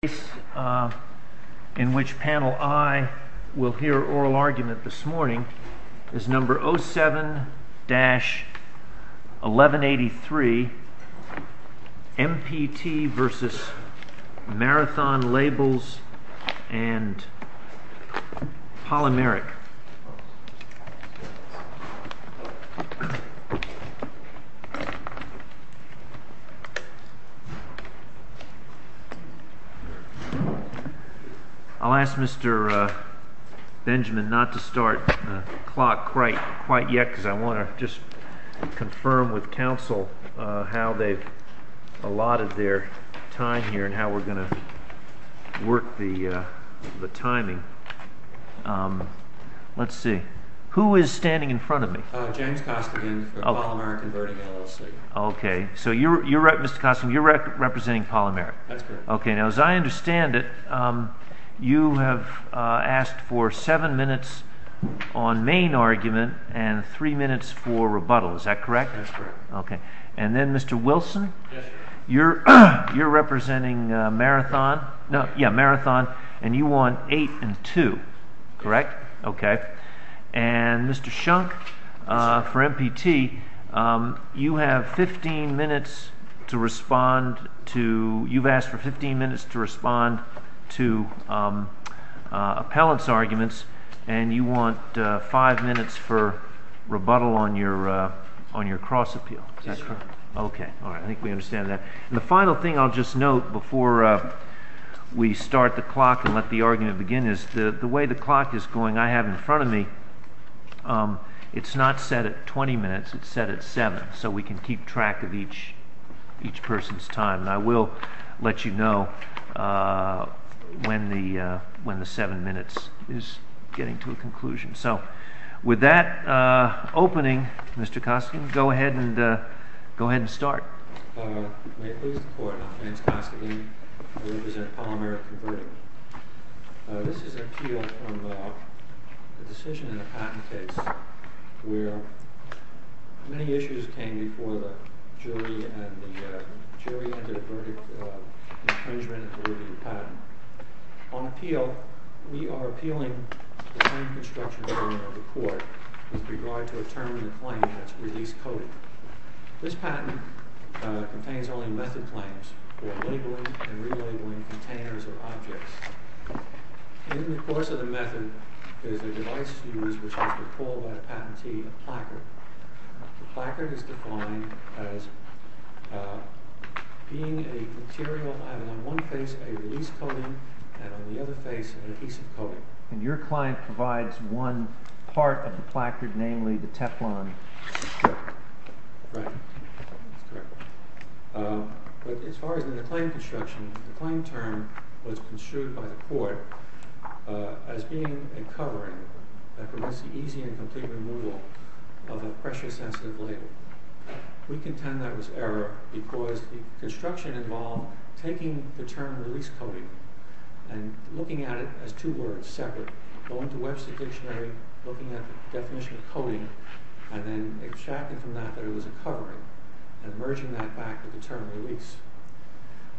The case in which panel I will hear oral argument this morning is number 07-1183 MPT v. Marathon Labels and Polymeric. I'll ask Mr. Benjamin not to start the clock quite yet because I want to just confirm with counsel how they've allotted their time here and how we're going to work the timing. Let's see, who is standing in front of me? James Costigan for Polymeric Converting LLC. Okay, so you're representing Polymeric? That's correct. Okay, now as I understand it, you have asked for 7 minutes on main argument and 3 minutes for rebuttal, is that correct? That's correct. Okay, and then Mr. Wilson, you're representing Marathon and you want 8 and 2, correct? That's correct. Okay, and Mr. Shunk for MPT, you have asked for 15 minutes to respond to appellant's arguments and you want 5 minutes for rebuttal on your cross appeal, is that correct? That's correct. Okay, I think we understand that. The final thing I'll just note before we start the clock and let the argument begin is the way the clock is going, I have in front of me, it's not set at 20 minutes, it's set at 7 so we can keep track of each person's time. I will let you know when the 7 minutes is getting to a conclusion. So, with that opening, Mr. Koskinen, go ahead and start. May it please the court, my name is Koskinen, I represent Polymeric Converting. This is an appeal from a decision in a patent case where many issues came before the jury and the jury entered a verdict infringement of the patent. On appeal, we are appealing the time construction of the court with regard to a term in the claim that's release coded. This patent contains only method claims for labeling and relabeling containers or objects. In the course of the method, there's a device used which has been called by the patentee a placard. The placard is defined as being a material having on one face a release coding and on the other face an adhesive coding. And your client provides one part of the placard, namely the Teflon. Right, that's correct. But as far as the claim construction, the claim term was construed by the court as being a covering that prevents the easy and complete removal of a pressure sensitive label. We contend that was error because the construction involved taking the term release coding and looking at it as two words separate. Going to Webster Dictionary, looking at the definition of coding and then extracting from that that it was a covering and merging that back with the term release.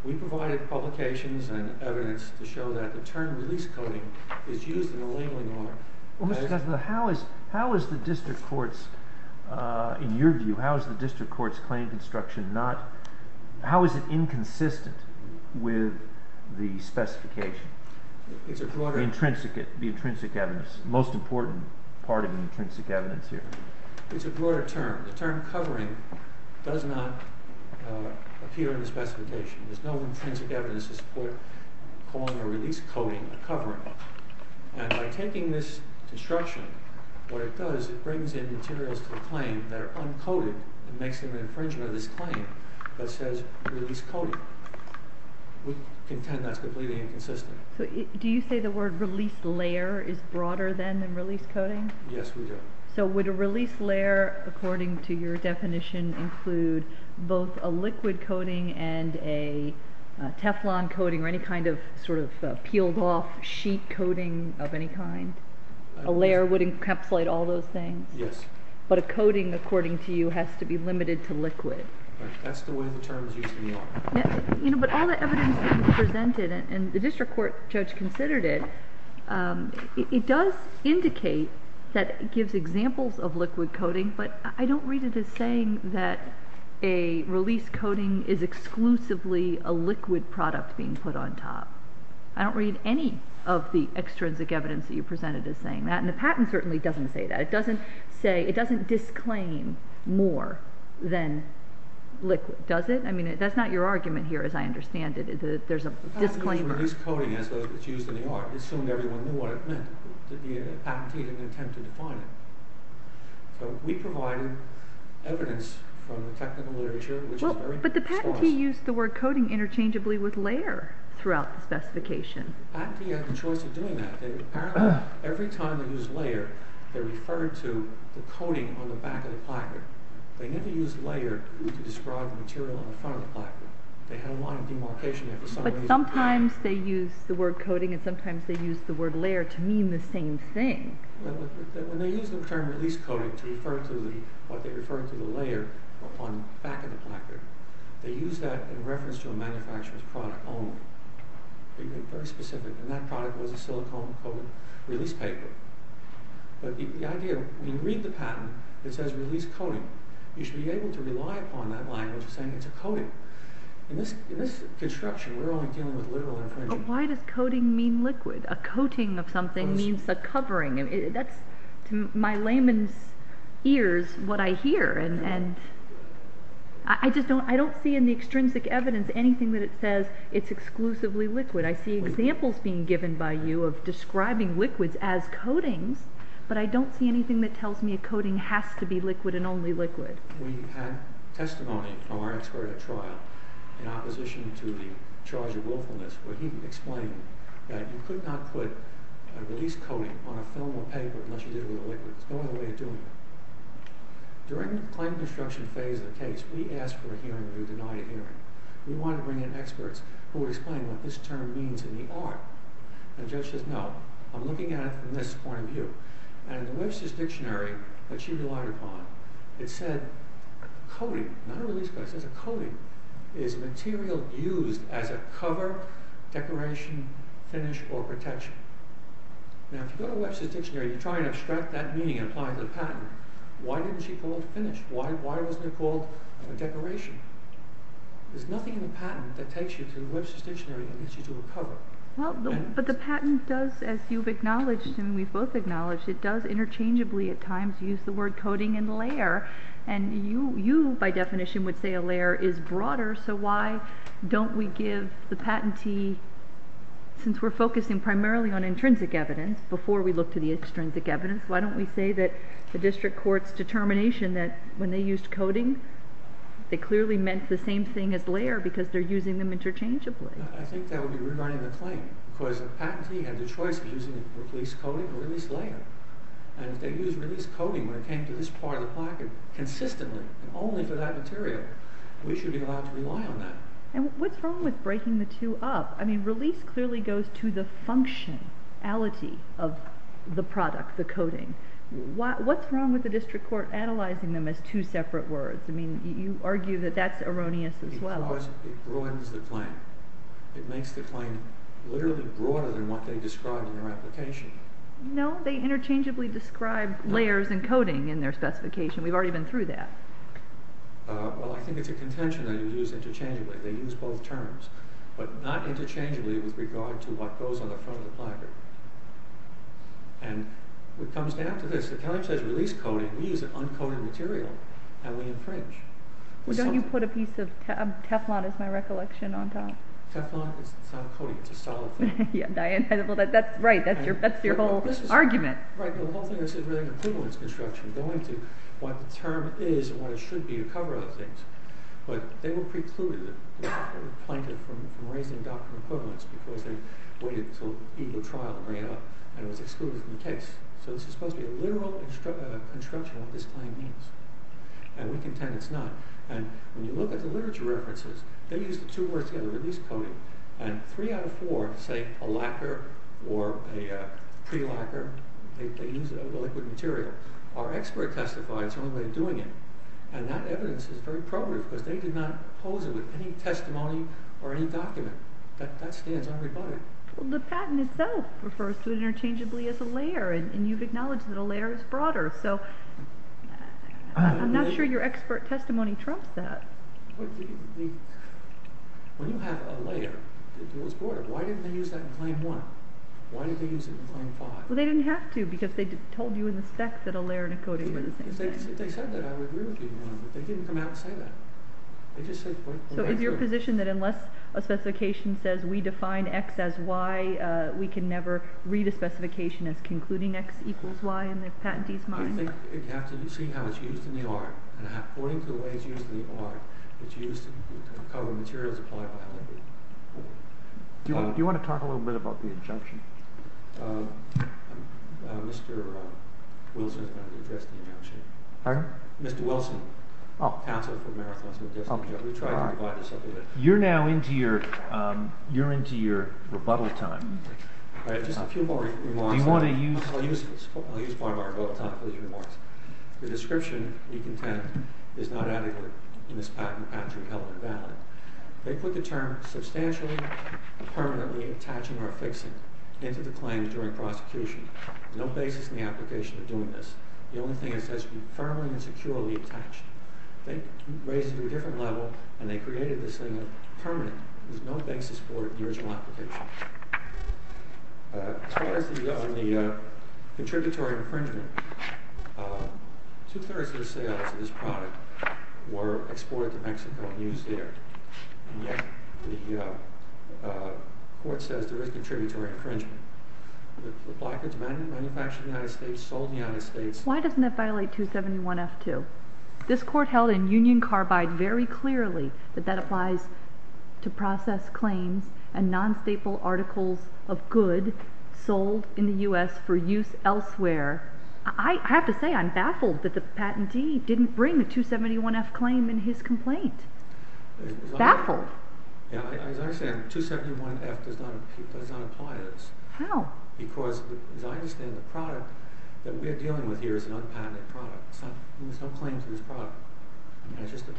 We provided publications and evidence to show that the term release coding is used in a labeling order. Well, Mr. Kessler, how is the district court's, in your view, how is the district court's claim construction not, how is it inconsistent with the specification? The intrinsic evidence, the most important part of the intrinsic evidence here. It's a broader term. The term covering does not appear in the specification. There's no intrinsic evidence to support calling a release coding a covering. And by taking this construction, what it does is it brings in materials to the claim that are uncoded and makes them an infringement of this claim that says release coding. We contend that's completely inconsistent. Do you say the word release layer is broader than release coding? Yes, we do. So would a release layer, according to your definition, include both a liquid coating and a Teflon coating or any kind of sort of peeled off sheet coating of any kind? A layer would encapsulate all those things? Yes. But a coating, according to you, has to be limited to liquid. That's the way the terms usually are. You know, but all the evidence that was presented, and the district court judge considered it, it does indicate that it gives examples of liquid coating. But I don't read it as saying that a release coating is exclusively a liquid product being put on top. I don't read any of the extrinsic evidence that you presented as saying that. And the patent certainly doesn't say that. It doesn't say, it doesn't disclaim more than liquid, does it? I mean, that's not your argument here, as I understand it. There's a disclaimer. The patent didn't use the word release coating as it's used in the art. It assumed everyone knew what it meant. The patentee didn't attempt to define it. So we provided evidence from the technical literature, which is very good. But the patentee used the word coating interchangeably with layer throughout the specification. The patentee had the choice of doing that. Every time they used layer, they referred to the coating on the back of the placard. They never used layer to describe the material on the front of the placard. They had a lot of demarcation. But sometimes they used the word coating and sometimes they used the word layer to mean the same thing. When they used the term release coating to refer to what they referred to as the layer on the back of the placard, they used that in reference to a manufacturer's product only. Very specific. And that product was a silicone-coated release paper. But the idea, when you read the patent, it says release coating. You should be able to rely upon that language of saying it's a coating. In this construction, we're only dealing with literal infringement. But why does coating mean liquid? A coating of something means a covering. That's, to my layman's ears, what I hear. I don't see in the extrinsic evidence anything that says it's exclusively liquid. I see examples being given by you of describing liquids as coatings, but I don't see anything that tells me a coating has to be liquid and only liquid. We had testimony from our expert at trial in opposition to the charge of willfulness where he explained that you could not put a release coating on a film or paper unless you did it with a liquid. There's no other way of doing it. During the claim construction phase of the case, we asked for a hearing and we denied a hearing. We wanted to bring in experts who would explain what this term means in the art. And the judge says, no, I'm looking at it from this point of view. And the Webster's Dictionary that she relied upon, it said coating, not a release coating, it says a coating is material used as a cover, decoration, finish, or protection. Now, if you go to the Webster's Dictionary, you try and abstract that meaning and apply it to the patent. Why didn't she call it finish? Why wasn't it called a decoration? There's nothing in the patent that takes you to the Webster's Dictionary and gets you to a cover. But the patent does, as you've acknowledged and we've both acknowledged, it does interchangeably at times use the word coating and layer. And you, by definition, would say a layer is broader, so why don't we give the patentee, since we're focusing primarily on intrinsic evidence before we look to the extrinsic evidence, why don't we say that the district court's determination that when they used coating, they clearly meant the same thing as layer because they're using them interchangeably. I think that would be regarding the claim. Because the patentee had the choice of using it for at least coating or at least layer. And if they used release coating when it came to this part of the placket consistently, only for that material, we should be allowed to rely on that. And what's wrong with breaking the two up? I mean, release clearly goes to the functionality of the product, the coating. What's wrong with the district court analyzing them as two separate words? I mean, you argue that that's erroneous as well. Because it ruins the claim. It makes the claim literally broader than what they describe in their application. No, they interchangeably describe layers and coating in their specification. We've already been through that. Well, I think it's a contention that you use interchangeably. They use both terms, but not interchangeably with regard to what goes on the front of the placket. And it comes down to this. The county says release coating. We use an uncoated material, and we infringe. Well, don't you put a piece of Teflon, is my recollection, on top? Teflon? It's not coating. It's a solid thing. Well, that's right. That's your whole argument. Right, but the whole thing is really equivalence construction, going to what the term is and what it should be to cover other things. But they were precluded, or planted, from raising a doctrine of equivalence because they waited until legal trial to bring it up, and it was excluded from the case. So this is supposed to be a literal construction of what this claim means. And we contend it's not. And when you look at the literature references, they use the two words together, release coating. And three out of four say a lacquer or a pre-lacquer. They use a liquid material. Our expert testified it's the only way of doing it. And that evidence is very probative because they did not pose it with any testimony or any document. That stands unrebutted. Well, the patent itself refers to it interchangeably as a layer, and you've acknowledged that a layer is broader. So I'm not sure your expert testimony trumps that. When you have a layer that goes broader, why didn't they use that in Claim 1? Why did they use it in Claim 5? Well, they didn't have to because they told you in the specs that a layer and a coating were the same thing. If they said that, I would agree with you. But they didn't come out and say that. So is your position that unless a specification says we define X as Y, we can never read a specification as concluding X equals Y in the patentee's mind? I think you have to see how it's used in the art. And according to the way it's used in the art, it's used to cover materials applied by other people. Do you want to talk a little bit about the injunction? Mr. Wilson is going to address the injunction. Pardon? Mr. Wilson, counsel for Marathonism and Destiny. We tried to provide this up a bit. You're now into your rebuttal time. I have just a few more remarks. Do you want to use them? I'll use part of our rebuttal time for these remarks. The description you contend is not adequate in this patent, Patrick Heller valid. They put the term substantially, permanently, attaching or affixing into the claim during prosecution. No basis in the application of doing this. The only thing is that it should be firmly and securely attached. They raised it to a different level, and they created this thing of permanent. There's no basis for it in the original application. As far as the contributory infringement, two-thirds of the sales of this product were exported to Mexico and used there. And yet the court says there is contributory infringement. The blockage manufactured in the United States, sold in the United States. Why doesn't that violate 271F2? This court held in Union Carbide very clearly that that applies to process claims and non-staple articles of good sold in the U.S. for use elsewhere. I have to say I'm baffled that the patentee didn't bring a 271F claim in his complaint. Baffled. As I understand, 271F does not apply to this. How? Because as I understand the product that we're dealing with here is an unpatented product. There's no claim to this product.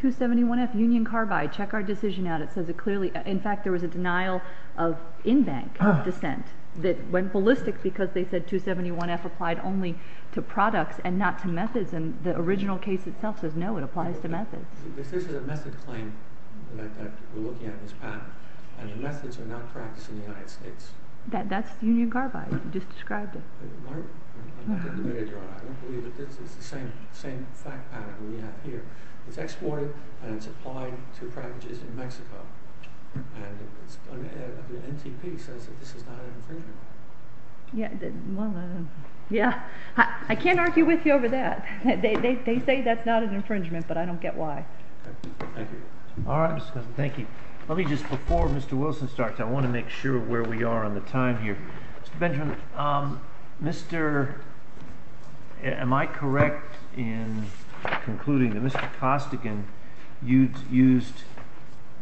271F, Union Carbide, check our decision out. It says it clearly. In fact, there was a denial of in-bank dissent that went ballistic because they said 271F applied only to products and not to methods. And the original case itself says no, it applies to methods. This is a method claim that we're looking at in this patent. And the methods are not practiced in the United States. That's Union Carbide. You just described it. I don't believe it. This is the same fact pattern we have here. It's exported and it's applied to packages in Mexico. And the NTP says that this is not an infringement. I can't argue with you over that. They say that's not an infringement, but I don't get why. Thank you. All right, Mr. Cousins. Thank you. Let me just, before Mr. Wilson starts, I want to make sure where we are on the time here. Mr. Benjamin, am I correct in concluding that Mr. Costigan used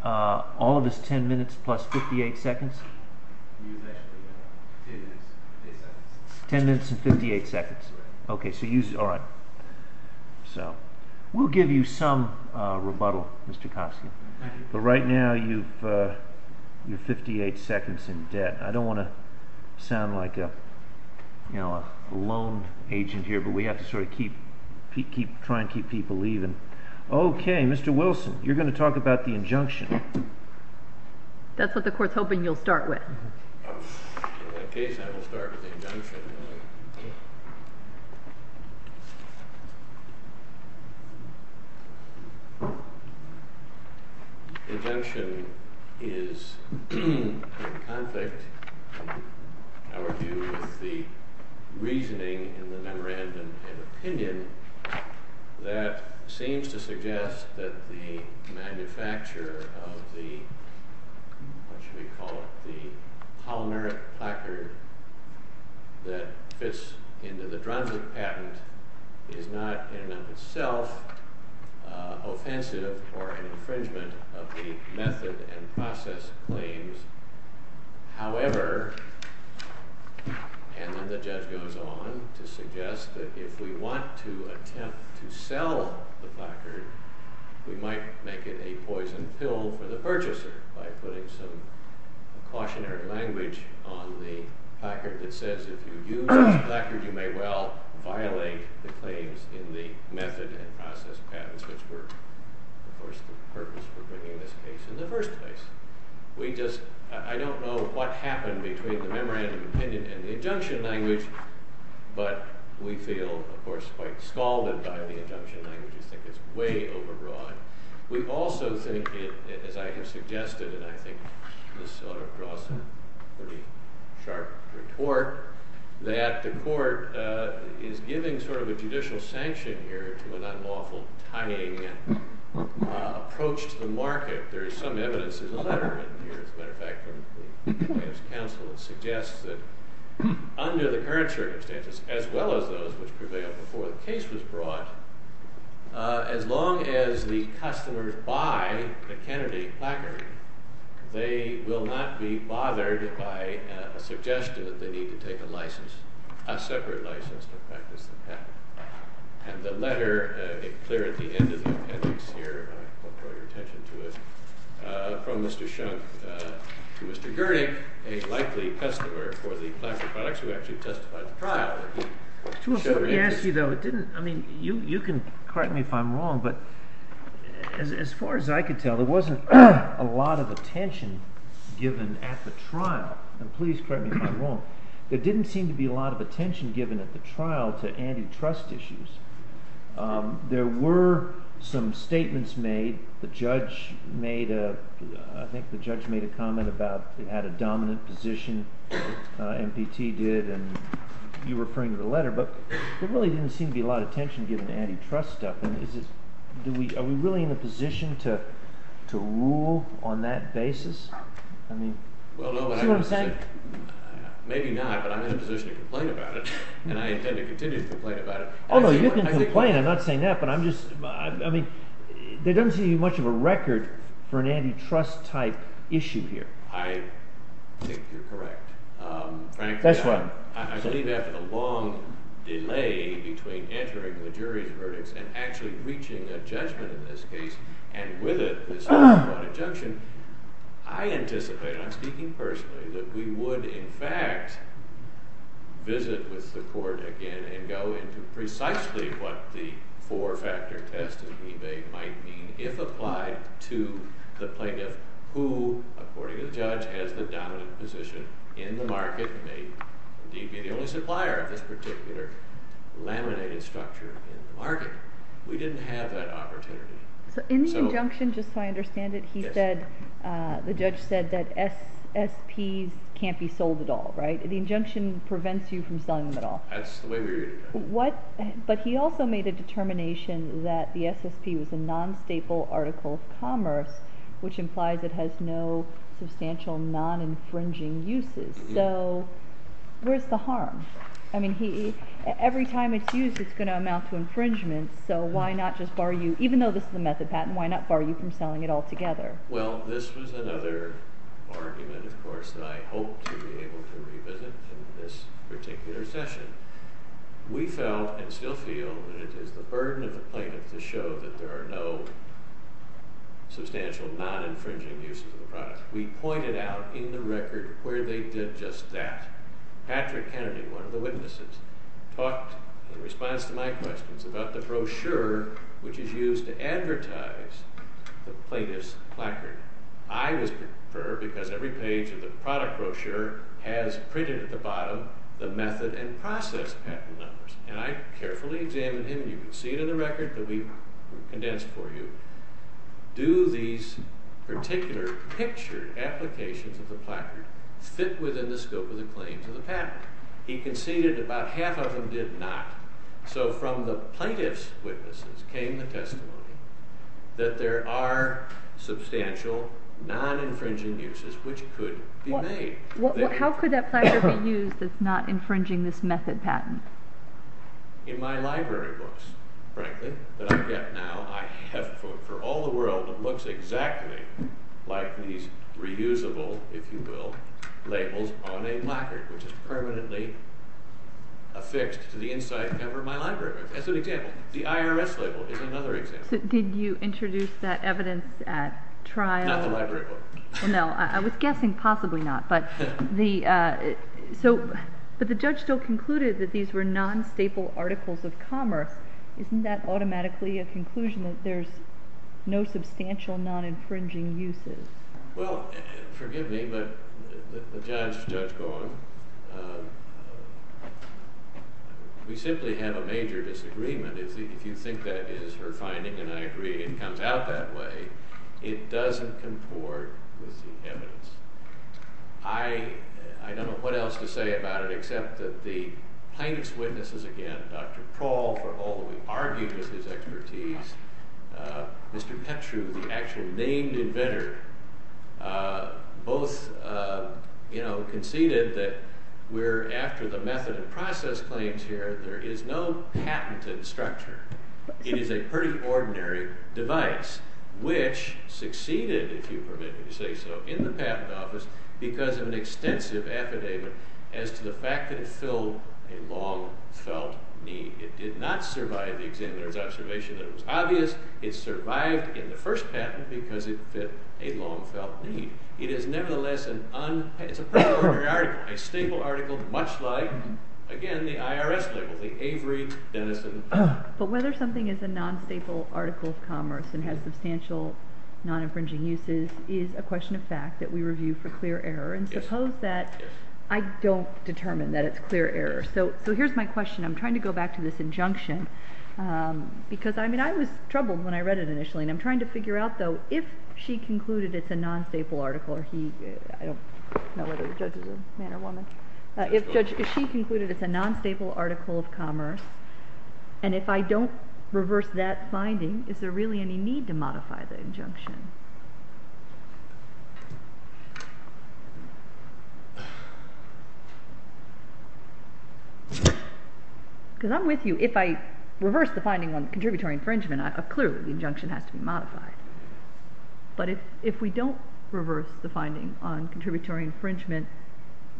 all of his ten minutes plus 58 seconds? Ten minutes and 58 seconds. Ten minutes and 58 seconds. All right. We'll give you some rebuttal, Mr. Costigan. Thank you. But right now you're 58 seconds in debt. I don't want to sound like a loan agent here, but we have to sort of keep trying to keep people even. Okay, Mr. Wilson, you're going to talk about the injunction. That's what the Court's hoping you'll start with. In that case, I will start with the injunction. The injunction is in conflict, in our view, with the reasoning in the memorandum and opinion that seems to suggest that the manufacturer of the, what should we call it, the polymeric placard that fits into the Dranzig patent is not in and of itself offensive or an infringement of the method and process claims. However, and then the judge goes on to suggest that if we want to attempt to sell the placard, we might make it a poison pill for the purchaser by putting some cautionary language on the placard that says if you use this placard, you may well violate the claims in the method and process patents, which were, of course, the purpose for bringing this case in the first place. We just, I don't know what happened between the memorandum and opinion and the injunction language, but we feel, of course, quite scalded by the injunction language. We think it's way overbroad. We also think, as I have suggested, and I think this sort of draws a pretty sharp retort, that the court is giving sort of a judicial sanction here to an unlawful tying approach to the market. There is some evidence in the letter written here, as a matter of fact, from the plaintiff's counsel that suggests that under the current circumstances, as well as those which prevailed before the case was brought, as long as the customers buy the Kennedy placard, they will not be bothered by a suggestion that they need to take a license, a separate license to practice the patent. And the letter, it's clear at the end of the appendix here, I won't draw your attention to it, from Mr. Shunk to Mr. Gernick, a likely customer for the placard products who actually testified at the trial. I mean, you can correct me if I'm wrong, but as far as I can tell, there wasn't a lot of attention given at the trial. And please correct me if I'm wrong. There didn't seem to be a lot of attention given at the trial to antitrust issues. There were some statements made. The judge made a, I think the judge made a comment about, had a dominant position, MPT did, and you were referring to the letter. But there really didn't seem to be a lot of attention given to antitrust stuff. And is this, are we really in a position to rule on that basis? I mean, see what I'm saying? Well, no. Maybe not, but I'm in a position to complain about it. And I intend to continue to complain about it. Oh, no, you can complain. I'm not saying that, but I'm just, I mean, there doesn't seem to be much of a record for an antitrust type issue here. I think you're correct. Frankly, I believe after a long delay between entering the jury's verdicts and actually reaching a judgment in this case, and with it, this ongoing injunction, I anticipate, and I'm speaking personally, that we would in fact visit with the court again and go into precisely what the four-factor test that we made might mean if applied to the plaintiff, who, according to the judge, has the dominant position in the market, may indeed be the only supplier of this particular laminated structure in the market. We didn't have that opportunity. So in the injunction, just so I understand it, the judge said that SSPs can't be sold at all, right? The injunction prevents you from selling them at all. That's the way we read it. But he also made a determination that the SSP was a non-staple article of commerce, which implies it has no substantial non-infringing uses. So where's the harm? I mean, every time it's used, it's going to amount to infringement, so why not just bar you, even though this is a method patent, why not bar you from selling it altogether? Well, this was another argument, of course, that I hope to be able to revisit in this particular session. We felt and still feel that it is the burden of the plaintiff to show that there are no substantial non-infringing uses of the product. We pointed out in the record where they did just that. Patrick Kennedy, one of the witnesses, talked in response to my questions about the brochure, which is used to advertise the plaintiff's placard. I was perturbed because every page of the product brochure has printed at the bottom the method and process patent numbers. And I carefully examined him. You can see it in the record. It will be condensed for you. Do these particular pictured applications of the placard fit within the scope of the claims of the patent? He conceded about half of them did not. So from the plaintiff's witnesses came the testimony that there are substantial non-infringing uses which could be made. How could that placard be used that's not infringing this method patent? In my library books, frankly, that I get now, I have for all the world, it looks exactly like these reusable, if you will, labels on a placard, which is permanently affixed to the inside cover of my library book. That's an example. The IRS label is another example. Did you introduce that evidence at trial? Not the library book. No. I was guessing possibly not. But the judge still concluded that these were non-staple articles of commerce. Isn't that automatically a conclusion that there's no substantial non-infringing uses? Well, forgive me, but the judge is Judge Golan. We simply have a major disagreement. If you think that is her finding, and I agree it comes out that way, it doesn't comport with the evidence. I don't know what else to say about it except that the plaintiff's witnesses, again, Dr. Prowl, for all that we've argued with his expertise, Mr. Petru, the actual named inventor, both conceded that we're after the method of process claims here. There is no patented structure. It is a pretty ordinary device, which succeeded, if you permit me to say so, in the patent office because of an extensive affidavit as to the fact that it filled a long-felt need. It did not survive the examiner's observation that it was obvious. It survived in the first patent because it fit a long-felt need. It is, nevertheless, a stable article, much like, again, the IRS label, the Avery, Denison. But whether something is a non-stable article of commerce and has substantial non-infringing uses is a question of fact that we review for clear error, and suppose that I don't determine that it's clear error. So here's my question. I'm trying to go back to this injunction because, I mean, I was troubled when I read it initially, and I'm trying to figure out, though, if she concluded it's a non-stable article, or he, I don't know whether the judge is a man or woman. If she concluded it's a non-stable article of commerce, and if I don't reverse that finding, is there really any need to modify the injunction? Because I'm with you. If I reverse the finding on contributory infringement, clearly the injunction has to be modified. But if we don't reverse the finding on contributory infringement,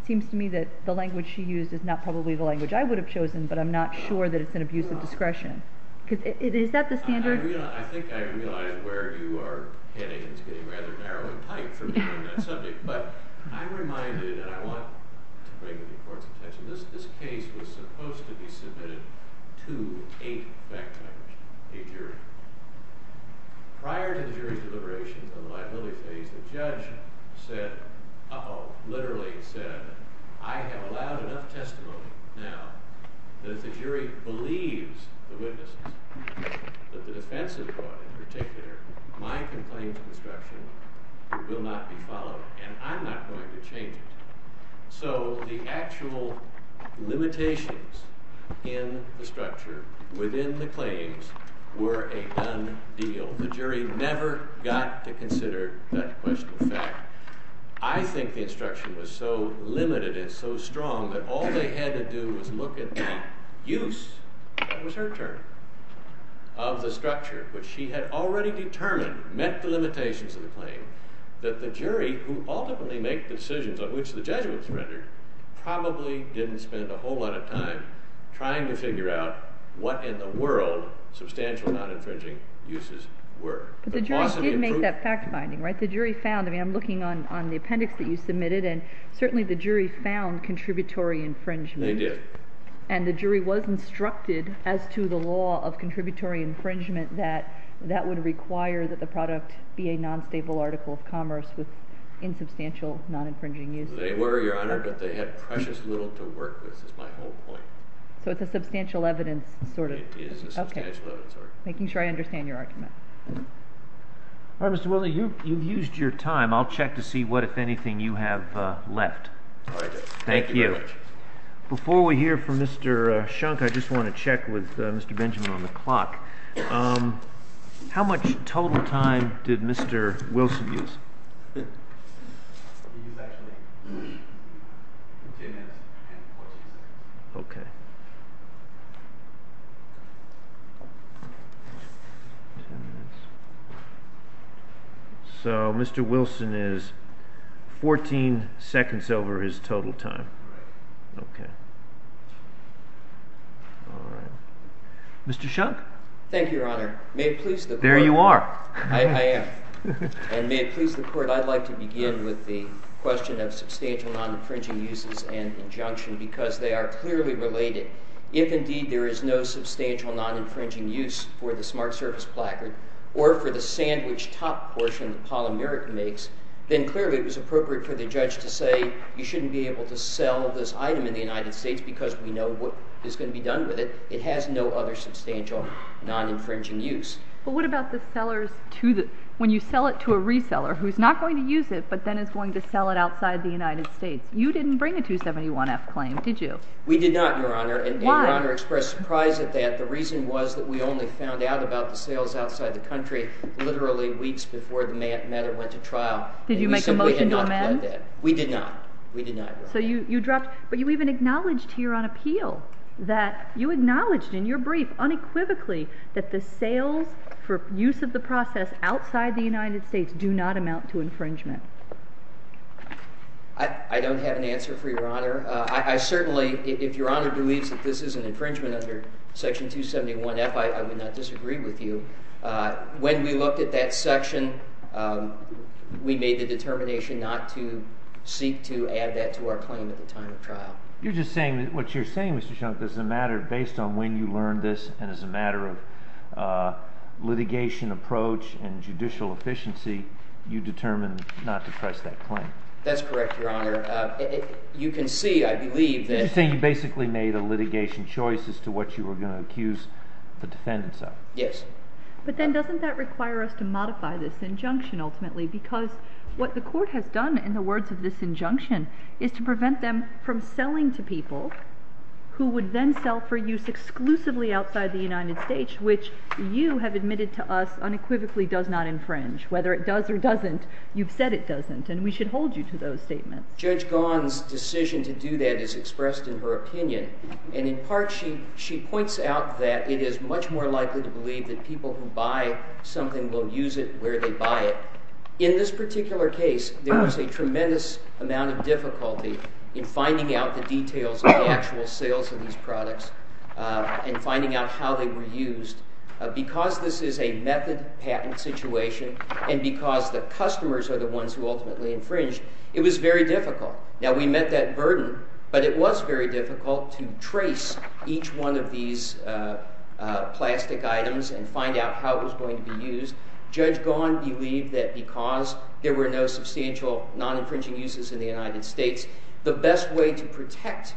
it seems to me that the language she used is not probably the language I would have chosen, but I'm not sure that it's an abuse of discretion. Is that the standard? I think I realize where you are heading. It's getting rather narrow and tight for me on that subject. But I'm reminded, and I want to bring it to the Court's attention, this case was supposed to be submitted to a jury. Prior to the jury's deliberations on the liability phase, the judge said, literally said, I have allowed enough testimony now that if the jury believes the witnesses, that the defense has brought in particular, my complaint of obstruction will not be followed, and I'm not going to change it. So the actual limitations in the structure within the claims were a done deal. The jury never got to consider that question of fact. I think the instruction was so limited and so strong that all they had to do was look at the use, that was her term, of the structure. But she had already determined, met the limitations of the claim, that the jury, who ultimately make the decisions on which the judgment was rendered, probably didn't spend a whole lot of time trying to figure out what in the world substantial non-infringing uses were. But the jury did make that fact finding, right? The jury found, I mean, I'm looking on the appendix that you submitted, and certainly the jury found contributory infringement. They did. And the jury was instructed as to the law of contributory infringement that that would require that the product be a non-stable article of commerce with insubstantial non-infringing uses. They were, Your Honor, but they had precious little to work with, is my whole point. So it's a substantial evidence sort of argument. It is a substantial evidence argument. Making sure I understand your argument. All right, Mr. Willey, you've used your time. I'll check to see what, if anything, you have left. All right. Thank you very much. Thank you. Before we hear from Mr. Shunk, I just want to check with Mr. Benjamin on the clock. How much total time did Mr. Wilson use? He used actually 10 minutes and 14 seconds. Okay. So Mr. Wilson is 14 seconds over his total time. Right. Okay. All right. Mr. Shunk? Thank you, Your Honor. May it please the Court. There you are. I am. And may it please the Court, I'd like to begin with the question of substantial non-infringing uses and injunction, because they are clearly related. If, indeed, there is no substantial non-infringing use for the smart surface placard or for the sandwich top portion that Paula Merritt makes, then clearly it was appropriate for the judge to say, you shouldn't be able to sell this item in the United States because we know what is going to be done with it. It has no other substantial non-infringing use. But what about the sellers to the—when you sell it to a reseller who's not going to use it but then is going to sell it outside the United States? You didn't bring a 271F claim, did you? We did not, Your Honor. Why? And Your Honor expressed surprise at that. The reason was that we only found out about the sales outside the country literally weeks before the matter went to trial. Did you make a motion to amend? We did not. We did not, Your Honor. So you dropped—but you even acknowledged here on appeal that you acknowledged in your motion for use of the process outside the United States do not amount to infringement. I don't have an answer for Your Honor. I certainly—if Your Honor believes that this is an infringement under Section 271F, I would not disagree with you. When we looked at that section, we made the determination not to seek to add that to our claim at the time of trial. You're just saying—what you're saying, Mr. Shunk, is a matter based on when you learned this and as a matter of litigation approach and judicial efficiency, you determined not to press that claim. That's correct, Your Honor. You can see, I believe, that— You're just saying you basically made a litigation choice as to what you were going to accuse the defendants of. Yes. But then doesn't that require us to modify this injunction ultimately? Because what the Court has done in the words of this injunction is to prevent them from which you have admitted to us unequivocally does not infringe. Whether it does or doesn't, you've said it doesn't. And we should hold you to those statements. Judge Gahn's decision to do that is expressed in her opinion. And in part, she points out that it is much more likely to believe that people who buy something will use it where they buy it. In this particular case, there was a tremendous amount of difficulty in finding out the details of the actual sales of these products and finding out how they were used. Because this is a method patent situation and because the customers are the ones who ultimately infringe, it was very difficult. Now, we met that burden, but it was very difficult to trace each one of these plastic items and find out how it was going to be used. Judge Gahn believed that because there were no substantial non-infringing uses in the United States, the best way to protect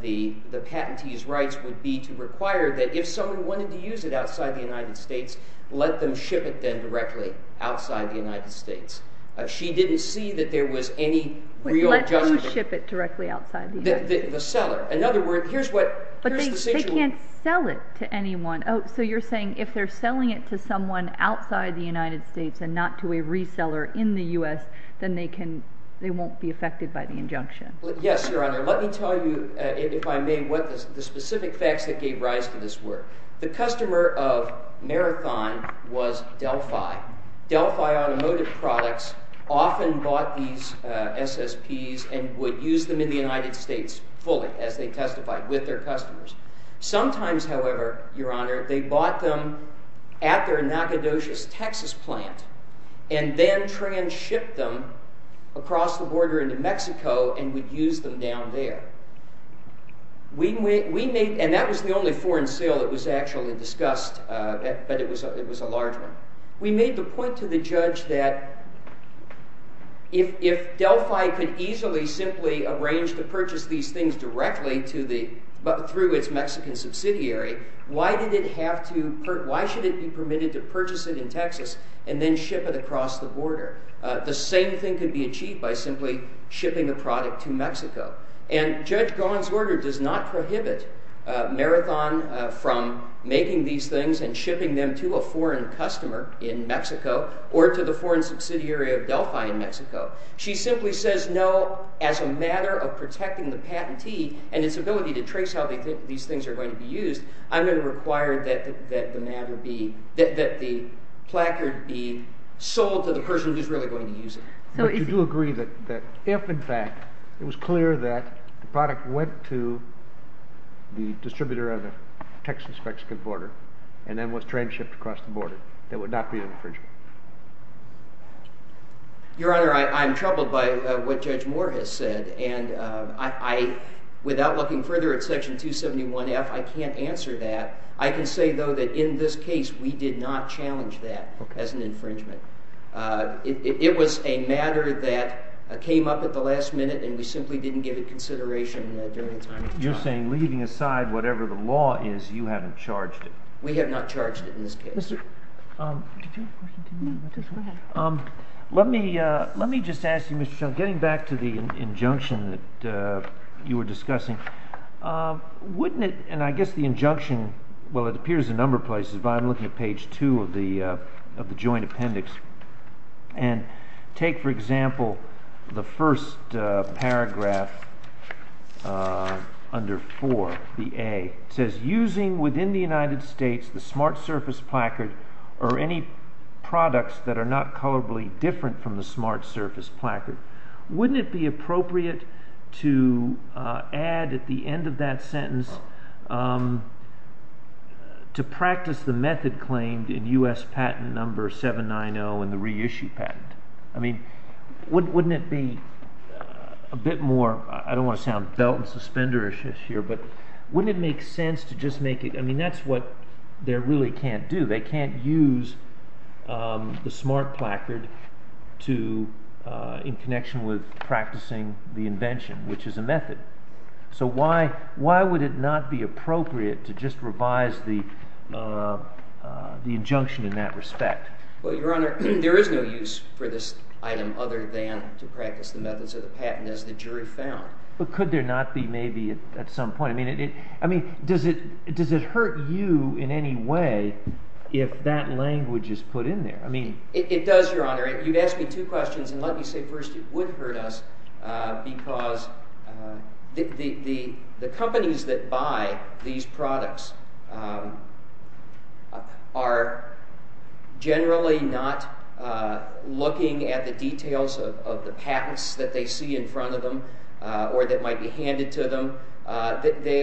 the patentee's rights would be to require that if someone wanted to use it outside the United States, let them ship it then directly outside the United States. She didn't see that there was any real adjustment. Let who ship it directly outside the United States? The seller. In other words, here's the situation. But they can't sell it to anyone. Oh, so you're saying if they're selling it to someone outside the United States and not to a reseller in the U.S., then they won't be affected by the injunction? Yes, Your Honor. Let me tell you, if I may, what the specific facts that gave rise to this were. The customer of Marathon was Delphi. Delphi Automotive Products often bought these SSPs and would use them in the United States fully, as they testified, with their customers. Sometimes, however, Your Honor, they bought them at their Nacogdoches, Texas, plant and then trans-shipped them across the border into Mexico and would use them down there. And that was the only foreign sale that was actually discussed, but it was a large one. We made the point to the judge that if Delphi could easily simply arrange to purchase these things directly through its Mexican subsidiary, why should it be permitted to purchase it in Texas and then ship it across the border? The same thing could be achieved by simply shipping the product to Mexico. And Judge Gahan's order does not prohibit Marathon from making these things and shipping them to a foreign customer in Mexico or to the foreign subsidiary of Delphi in Mexico. She simply says, no, as a matter of protecting the patentee and its ability to trace how these things are going to be used, I'm going to require that the placard be sold to the person who's really going to use it. But you do agree that if, in fact, it was clear that the product went to the distributor of the Texas-Mexican border and then was trans-shipped across the border, there would not be an infringement? Your Honor, I'm troubled by what Judge Moore has said. And without looking further at Section 271F, I can't answer that. I can say, though, that in this case, we did not challenge that as an infringement. It was a matter that came up at the last minute, and we simply didn't give it consideration during the time of the trial. You're saying, leaving aside whatever the law is, you haven't charged it? We have not charged it in this case. Let me just ask you, Mr. Shull, getting back to the injunction that you were discussing, wouldn't it—and I guess the injunction, well, it appears in a number of places, but I'm looking at page 2 of the Joint Appendix. And take, for example, the first paragraph under 4, the A. It says, Using within the United States the smart surface placard or any products that are not colorably different from the smart surface placard. Wouldn't it be appropriate to add at the end of that sentence, to practice the method claimed in U.S. Patent Number 790 in the reissue patent? I mean, wouldn't it be a bit more—I don't want to sound belt-and-suspender-ish here, but wouldn't it make sense to just make it—I mean, that's what they really can't do. They can't use the smart placard in connection with practicing the invention, which is a method. So why would it not be appropriate to just revise the injunction in that respect? Well, Your Honor, there is no use for this item other than to practice the methods of the patent, as the jury found. But could there not be, maybe, at some point—I mean, does it hurt you in any way if that language is put in there? It does, Your Honor. You've asked me two questions, and let me say first, it would hurt us because the companies that buy these products are generally not looking at the details of the patents that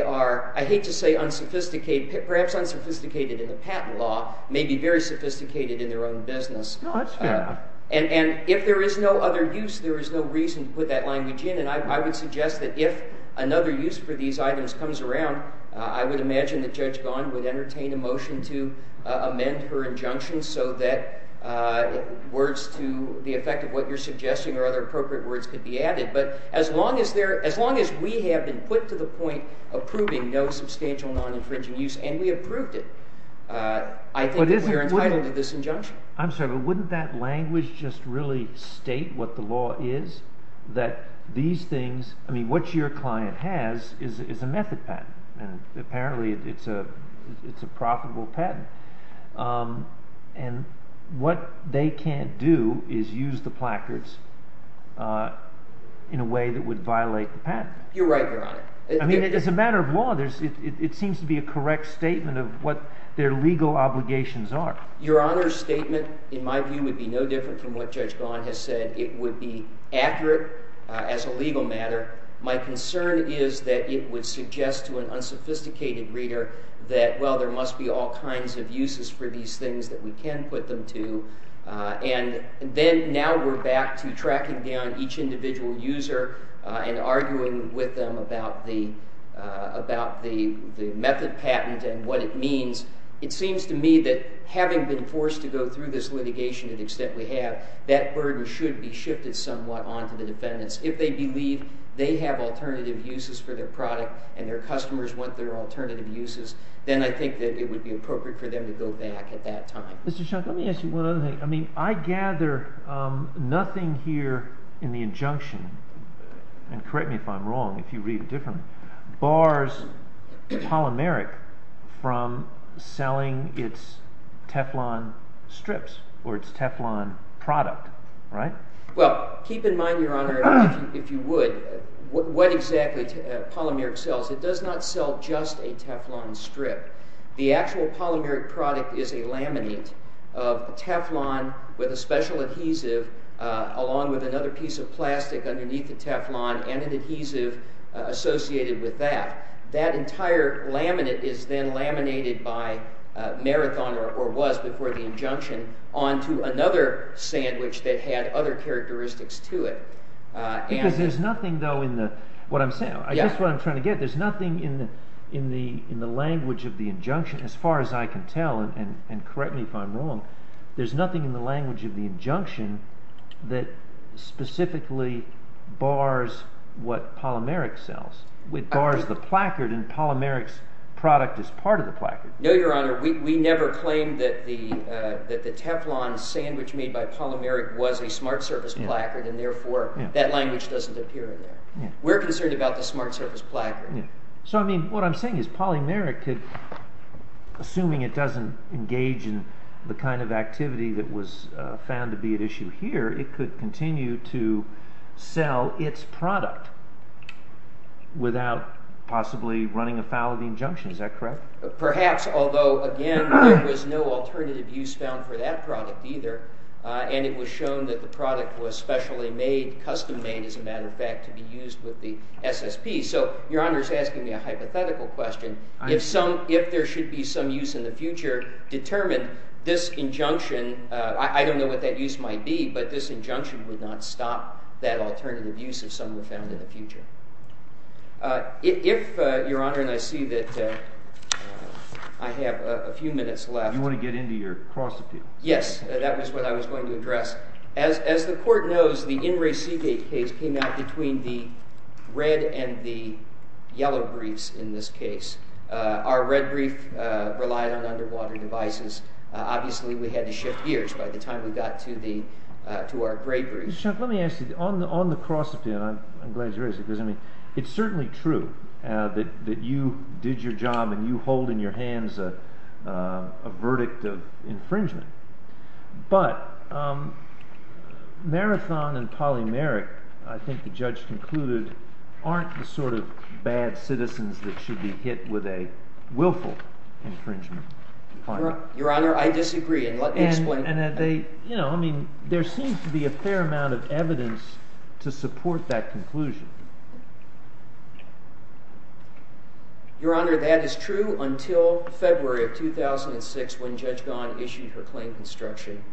are—I hate to say unsophisticated—perhaps unsophisticated in the patent law may be very sophisticated in their own business. No, that's fair. And if there is no other use, there is no reason to put that language in. And I would suggest that if another use for these items comes around, I would imagine that Judge Gahn would entertain a motion to amend her injunction so that words to the patent. But as long as we have been put to the point of proving no substantial non-infringing use, and we have proved it, I think that we are entitled to this injunction. I'm sorry, but wouldn't that language just really state what the law is? That these things—I mean, what your client has is a method patent, and apparently it's a profitable patent. And what they can't do is use the placards in a way that would violate the patent. You're right, Your Honor. I mean, as a matter of law, it seems to be a correct statement of what their legal obligations are. Your Honor's statement, in my view, would be no different from what Judge Gahn has said. It would be accurate as a legal matter. My concern is that it would suggest to an unsophisticated reader that, well, there must be all kinds of uses for these things that we can put them to, and then now we're back to tracking down each individual user and arguing with them about the method patent and what it means. It seems to me that having been forced to go through this litigation to the extent we have, that burden should be shifted somewhat onto the defendants. If they believe they have alternative uses for their product and their customers want their alternative uses, then I think that it would be appropriate for them to go back at that time. Mr. Shunk, let me ask you one other thing. I mean, I gather nothing here in the injunction, and correct me if I'm wrong if you read it differently, bars polymeric from selling its Teflon strips or its Teflon product, right? Well, keep in mind, Your Honor, if you would, what exactly polymeric sells. It does not sell just a Teflon strip. The actual polymeric product is a laminate of Teflon with a special adhesive along with another piece of plastic underneath the Teflon and an adhesive associated with that. That entire laminate is then laminated by Marathon or was before the injunction onto another sandwich that had other characteristics to it. Because there's nothing, though, in what I'm trying to get. There's nothing in the language of the injunction, as far as I can tell, and correct me if I'm wrong, there's nothing in the language of the injunction that specifically bars what polymeric sells. It bars the placard, and polymeric's product is part of the placard. No, Your Honor. We never claimed that the Teflon sandwich made by polymeric was a smart service placard, and therefore that language doesn't appear in there. We're concerned about the smart service placard. So, I mean, what I'm saying is polymeric could, assuming it doesn't engage in the kind of activity that was found to be at issue here, it could continue to sell its product without possibly running afoul of the injunction. Is that correct? Perhaps, although, again, there was no alternative use found for that product either, and it was shown that the product was specially made, custom made, as a matter of fact, to be used with the SSP. So, Your Honor's asking me a hypothetical question. If there should be some use in the future, determine this injunction, I don't know what that use might be, but this injunction would not stop that alternative use if some were found in the future. If, Your Honor, and I see that I have a few minutes left. You want to get into your cross appeals? Yes, that was what I was going to address. As the court knows, the In Re Seagate case came out between the red and the yellow briefs in this case. Our red brief relied on underwater devices. Obviously, we had to shift gears by the time we got to our gray briefs. Mr. Shunk, let me ask you, on the cross appeal, and I'm glad you raised it because, I mean, it's certainly true that you did your job and you hold in your hands a verdict of infringement, but Marathon and Polymeric, I think the judge concluded, aren't the sort of bad citizens that should be hit with a willful infringement. Your Honor, I disagree, and let me explain. I mean, there seems to be a fair amount of evidence to support that conclusion. Your Honor, that is true until February of 2006 when Judge Gaughan issued her claim construction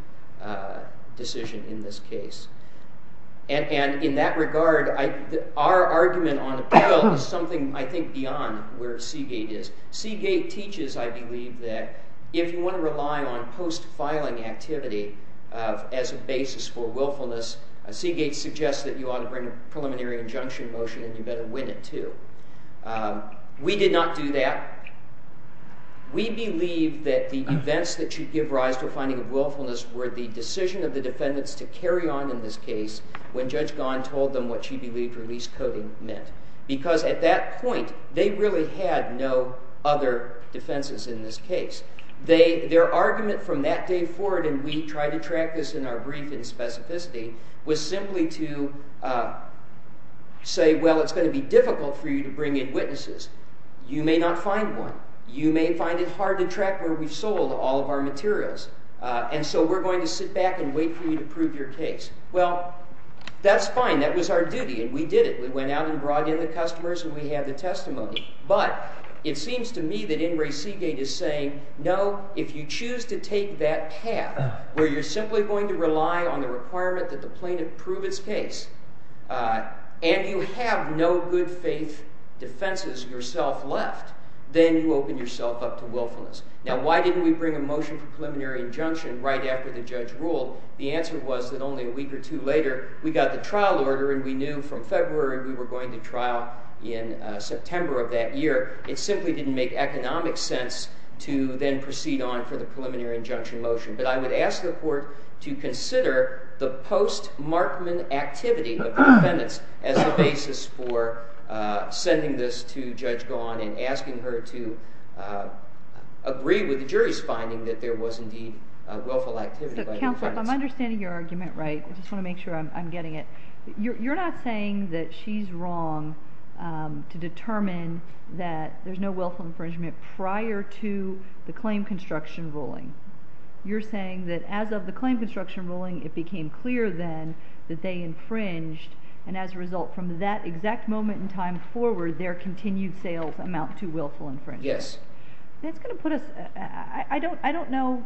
decision in this case. And in that regard, our argument on appeal is something, I think, beyond where Seagate is. Seagate teaches, I believe, that if you want to rely on post-filing activity as a basis for willfulness, Seagate suggests that you ought to bring a preliminary injunction motion and you better win it too. We did not do that. We believe that the events that should give rise to a finding of willfulness were the decision of the defendants to carry on in this case when Judge Gaughan told them what she believed release coding meant. Because at that point, they really had no other defenses in this case. Their argument from that day forward, and we try to track this in our brief in specificity, was simply to say, well, it's going to be difficult for you to bring in witnesses. You may not find one. You may find it hard to track where we've sold all of our materials. And so we're going to sit back and wait for you to prove your case. Well, that's fine. That was our duty, and we did it. We went out and brought in the customers, and we had the testimony. But it seems to me that In re Seagate is saying, no, if you choose to take that path where you're simply going to rely on the requirement that the plaintiff prove its case and you have no good faith defenses yourself left, then you open yourself up to willfulness. Now, why didn't we bring a motion for preliminary injunction right after the judge ruled? The answer was that only a week or two later we got the trial order, and we knew from February we were going to trial in September of that year. It simply didn't make economic sense to then proceed on for the preliminary injunction motion. But I would ask the court to consider the post-Markman activity of the defendants as a basis for sending this to Judge Gahan and asking her to agree with the jury's finding that there was indeed a willful activity by the defendants. Counsel, if I'm understanding your argument right, I just want to make sure I'm getting it. You're not saying that she's wrong to determine that there's no willful infringement prior to the claim construction ruling. You're saying that as of the claim construction ruling it became clear then that they infringed and as a result from that exact moment in time forward their continued sales amount to willful infringement. Yes. That's going to put us, I don't know,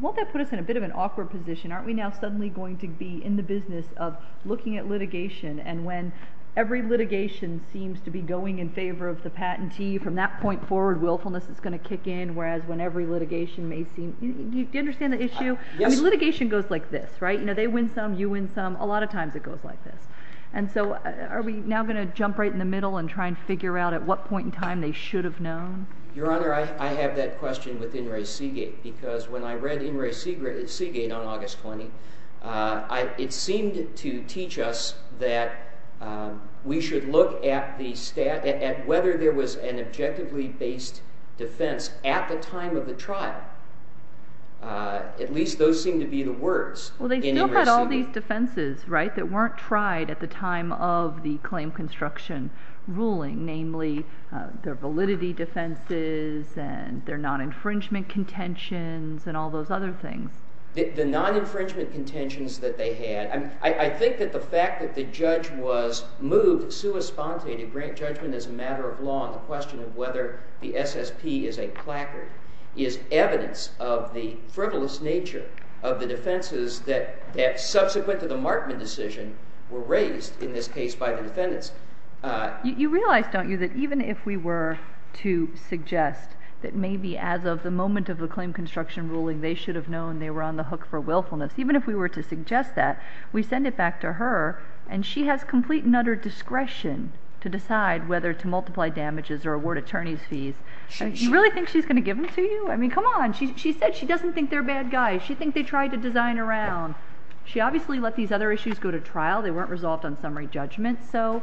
won't that put us in a bit of an awkward position? Aren't we now suddenly going to be in the business of looking at litigation and when every litigation seems to be going in favor of the patentee from that point forward willfulness is going to kick in whereas when every litigation may seem, do you understand the issue? Yes. I mean litigation goes like this, right? They win some, you win some. A lot of times it goes like this. And so are we now going to jump right in the middle and try and figure out at what point in time they should have known? Your Honor, I have that question with Inouye Seagate because when I read Inouye Seagate on August 20th it seemed to teach us that we should look at the stat, at whether there was an objectively based defense at the time of the trial. At least those seem to be the words. Well, they still had all these defenses, right, that weren't tried at the time of the claim construction ruling, namely their validity defenses and their non-infringement contentions and all those other things. The non-infringement contentions that they had, I think that the fact that the judge was moved sui sponte to grant judgment as a matter of law on the question of whether the SSP is a placard is evidence of the frivolous nature of the defenses that subsequent to the Markman decision were raised in this case by the defendants. You realize, don't you, that even if we were to suggest that maybe as of the moment of the claim construction ruling they should have known they were on the hook for willfulness, even if we were to suggest that, we send it back to her and she has complete and utter discretion to decide whether to multiply damages or award attorney's fees. You really think she's going to give them to you? I mean, come on. She said she doesn't think they're bad guys. She thinks they tried to design a round. She obviously let these other issues go to trial. They weren't resolved on summary judgment. So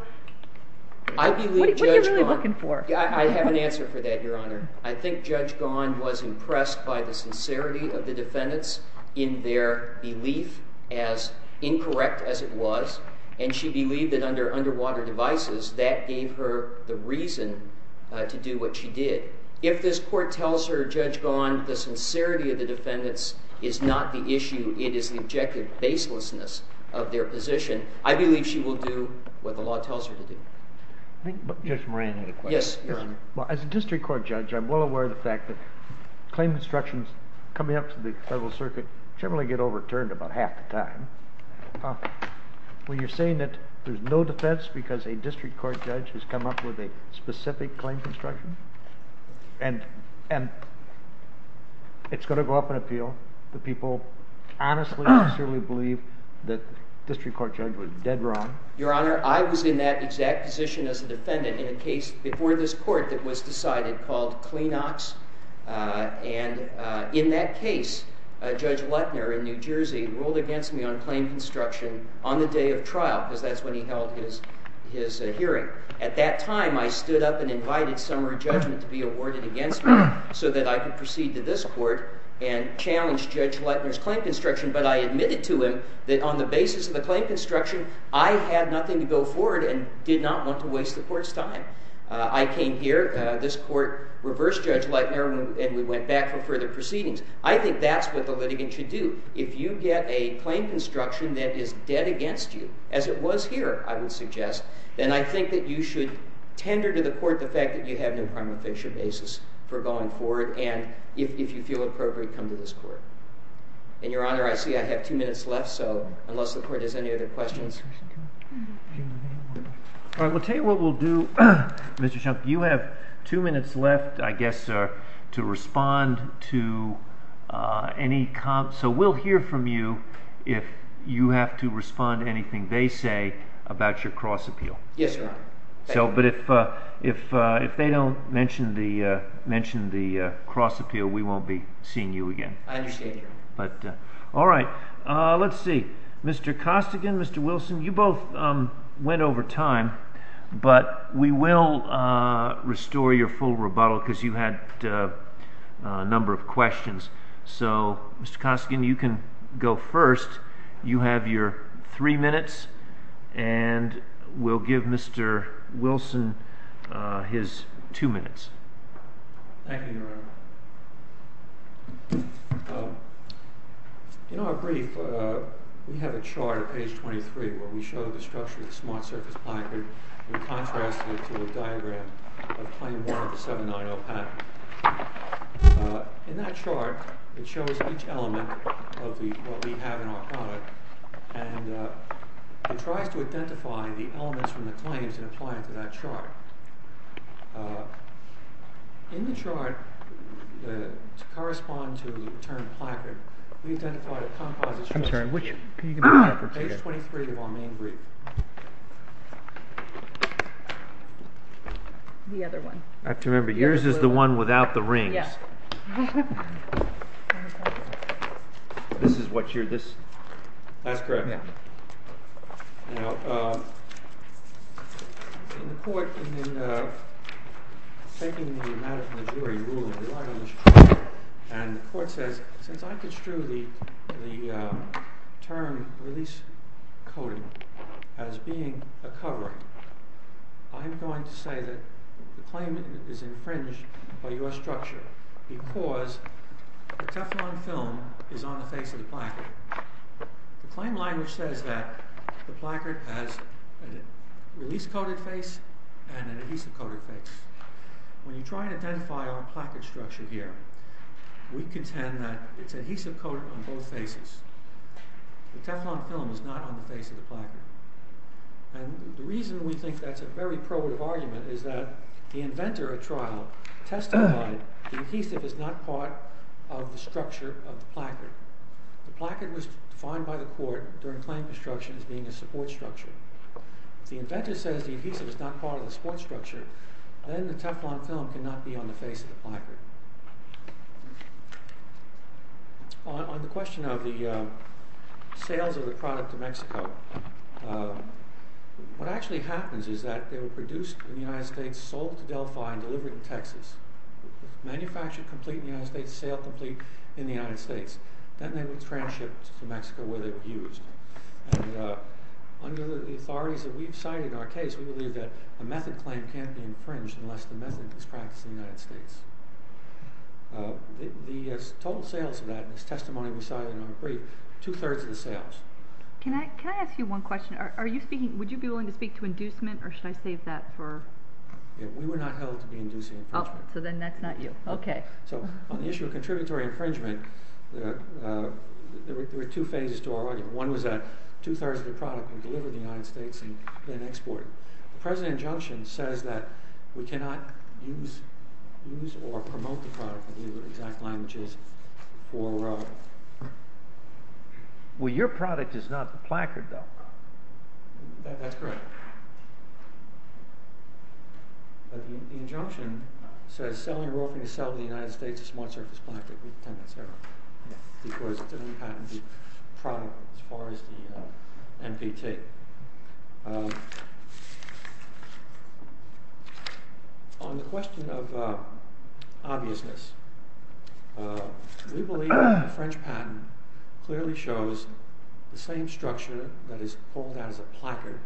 what are you really looking for? I have an answer for that, Your Honor. I think Judge Gahan was impressed by the sincerity of the defendants in their belief, as incorrect as it was. And she believed that under underwater devices, that gave her the reason to do what she did. If this court tells her, Judge Gahan, the sincerity of the defendants is not the issue, it is the objective baselessness of their position, I believe she will do what the law tells her to do. I think Judge Moran had a question. Yes, Your Honor. Well, as a district court judge, I'm well aware of the fact that claim constructions coming up to the Federal Circuit generally get overturned about half the time. When you're saying that there's no defense because a district court judge has come up with a specific claim construction, and it's going to go up in appeal, the people honestly and sincerely believe that the district court judge was dead wrong. Your Honor, I was in that exact position as a defendant in a case before this court that was decided called Kleenox. And in that case, Judge Lettner in New Jersey ruled against me on claim construction on the day of trial, because that's when he held his hearing. At that time, I stood up and invited summary judgment to be awarded against me so that I could proceed to this court and challenge Judge Lettner's claim construction, but I admitted to him that on the basis of the claim construction, I had nothing to go forward and did not want to waste the court's time. I came here, this court reversed Judge Lettner, and we went back for further proceedings. I think that's what the litigant should do. If you get a claim construction that is dead against you, as it was here, I would suggest, then I think that you should tender to the court the fact that you have no primary fixture basis for going forward, and if you feel appropriate, come to this court. And Your Honor, I see I have two minutes left, so unless the court has any other questions... All right, we'll tell you what we'll do. Mr. Shump, you have two minutes left, I guess, to respond to any comments. So we'll hear from you if you have to respond to anything they say about your cross-appeal. Yes, Your Honor. But if they don't mention the cross-appeal, we won't be seeing you again. I understand, Your Honor. All right, let's see. Mr. Costigan, Mr. Wilson, you both went over time, but we will restore your full rebuttal because you had a number of questions. So, Mr. Costigan, you can go first. You have your three minutes, and we'll give Mr. Wilson his two minutes. Thank you, Your Honor. In our brief, we have a chart at page 23 where we show the structure of the smart-surface placard and contrast it to a diagram of Claim 1 of the 790 pattern. In that chart, it shows each element of what we have in our product, and it tries to identify the elements from the claims and apply them to that chart. In the chart, to correspond to the term placard, we've identified a composite structure. Page 23 of our main brief. The other one. I have to remember, yours is the one without the rings. Yes. This is what you're... That's correct. Now, in the court, in taking the matter from the jury, the rule of the law, and the court says, since I construe the term release coding as being a covering, I'm going to say that the claim is infringed by your structure because the Teflon film is on the face of the placard. The claim language says that the placard has a release-coded face and an adhesive-coded face. When you try to identify our placard structure here, we contend that it's adhesive-coded on both faces. The Teflon film is not on the face of the placard. And the reason we think that's a very probative argument is that the inventor of trial testified the adhesive is not part of the structure of the placard. The placard was defined by the court during claim construction as being a support structure. If the inventor says the adhesive is not part of the support structure, then the Teflon film cannot be on the face of the placard. On the question of the sales of the product to Mexico, what actually happens is that they were produced in the United States, sold to Delphi, and delivered to Texas. Manufactured complete in the United States, made sale complete in the United States. Then they were transshipped to Mexico where they were used. And under the authorities that we've cited in our case, we believe that a method claim can't be infringed unless the method is practiced in the United States. The total sales of that, and this testimony we cited in our brief, two-thirds of the sales. Can I ask you one question? Would you be willing to speak to inducement, or should I save that for... We were not held to be inducing infringement. Oh, so then that's not you. Okay. So, on the issue of contributory infringement, there were two phases to our argument. One was that two-thirds of the product were delivered to the United States and then exported. The present injunction says that we cannot use or promote the product in any of the exact languages for... Well, your product is not the placard, though. That's correct. But the injunction says, selling or offering to sell to the United States a smart-surface placard, we contend that's error, because it didn't patent the product as far as the NPT. On the question of obviousness, we believe the French patent clearly shows the same structure that is pulled out as a placard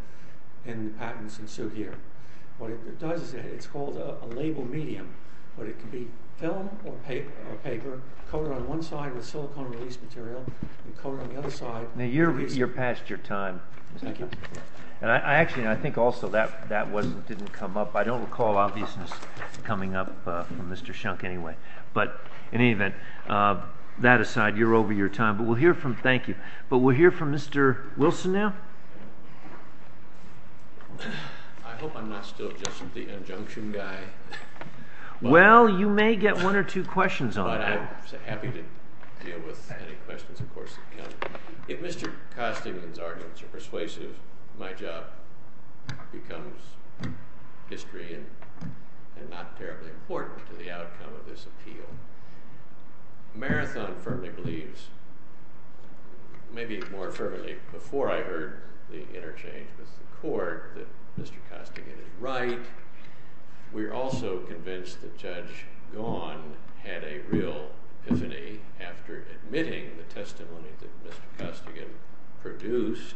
in the patents in suit here. What it does is it's called a label medium, but it can be film or paper, coated on one side with silicone release material, and coated on the other side... Now, you're past your time. Thank you. Actually, I think also that didn't come up. I don't recall obviousness coming up from Mr. Shunk anyway. But in any event, that aside, you're over your time. But we'll hear from... Thank you. I hope I'm not still just the injunction guy. Well, you may get one or two questions on that. But I'm happy to deal with any questions, of course, that come. If Mr. Costigan's arguments are persuasive, my job becomes history and not terribly important to the outcome of this appeal. Marathon firmly believes, maybe more firmly before I heard the interchange with the court, that Mr. Costigan is right. We're also convinced that Judge Gaughan had a real epiphany after admitting the testimony that Mr. Costigan produced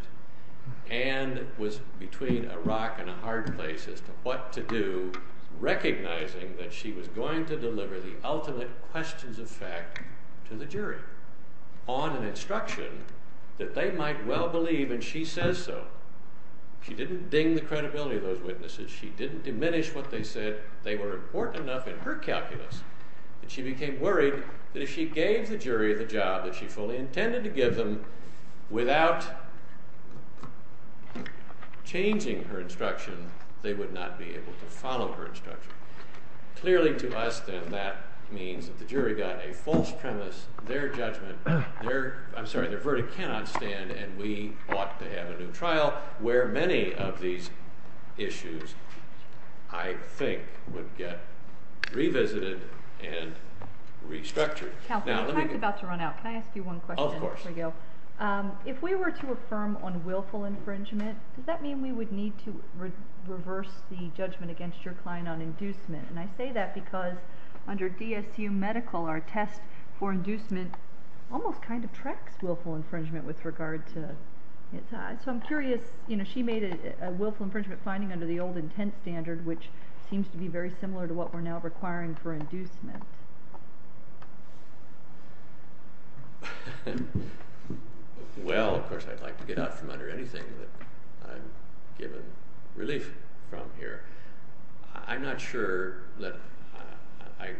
and was between a rock and a hard place as to what to do, recognizing that she was going to deliver the ultimate questions of fact to the jury on an instruction that they might well believe, and she says so. She didn't ding the credibility of those witnesses. She didn't diminish what they said. They were important enough in her calculus. And she became worried that if she gave the jury the job that she fully intended to give them, without changing her instruction, they would not be able to follow her instruction. Clearly to us, then, that means that the jury got a false premise, their verdict cannot stand, and we ought to have a new trial where many of these issues, I think, would get revisited and restructured. The time's about to run out. Can I ask you one question? Of course. If we were to affirm on willful infringement, does that mean we would need to reverse the judgment against your client on inducement? And I say that because under DSU medical, our test for inducement almost kind of tracks willful infringement with regard to... So I'm curious. She made a willful infringement finding under the old intent standard, which seems to be very similar to what we're now requiring for inducement. Well, of course, I'd like to get out from under anything that I'm given relief from here. I'm not sure that I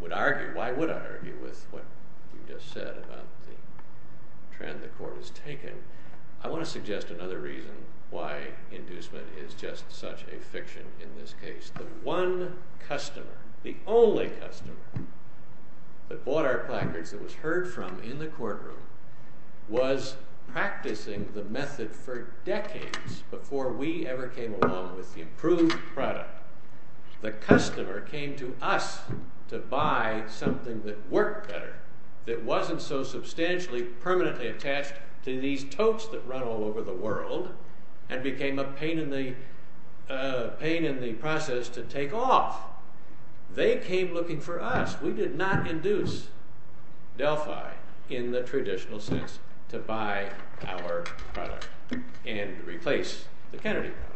would argue... Why would I argue with what you just said about the trend the court has taken? I want to suggest another reason why inducement is just such a fiction in this case. The one customer, the only customer that bought our placards, that was heard from in the courtroom, was practicing the method for decades before we ever came along with the improved product. The customer came to us to buy something that worked better, that wasn't so substantially permanently attached to these totes that run all over the world and became a pain in the process to take off. They came looking for us. We did not induce Delphi in the traditional sense to buy our product and replace the Kennedy product.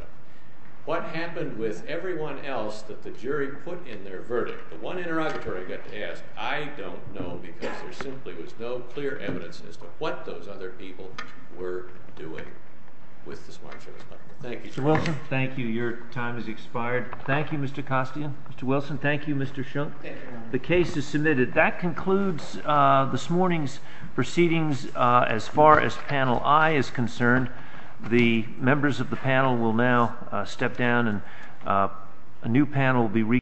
What happened with everyone else that the jury put in their verdict, the one interrogatory I got to ask, I don't know because there simply was no clear evidence as to what those other people were doing with the Smart Shoes product. Thank you. Mr. Wilson, thank you. Your time has expired. Thank you, Mr. Costian. Mr. Wilson, thank you, Mr. Schunk. The case is submitted. That concludes this morning's proceedings. As far as Panel I is concerned, the members of the panel will now step down and a new panel will be reconvened.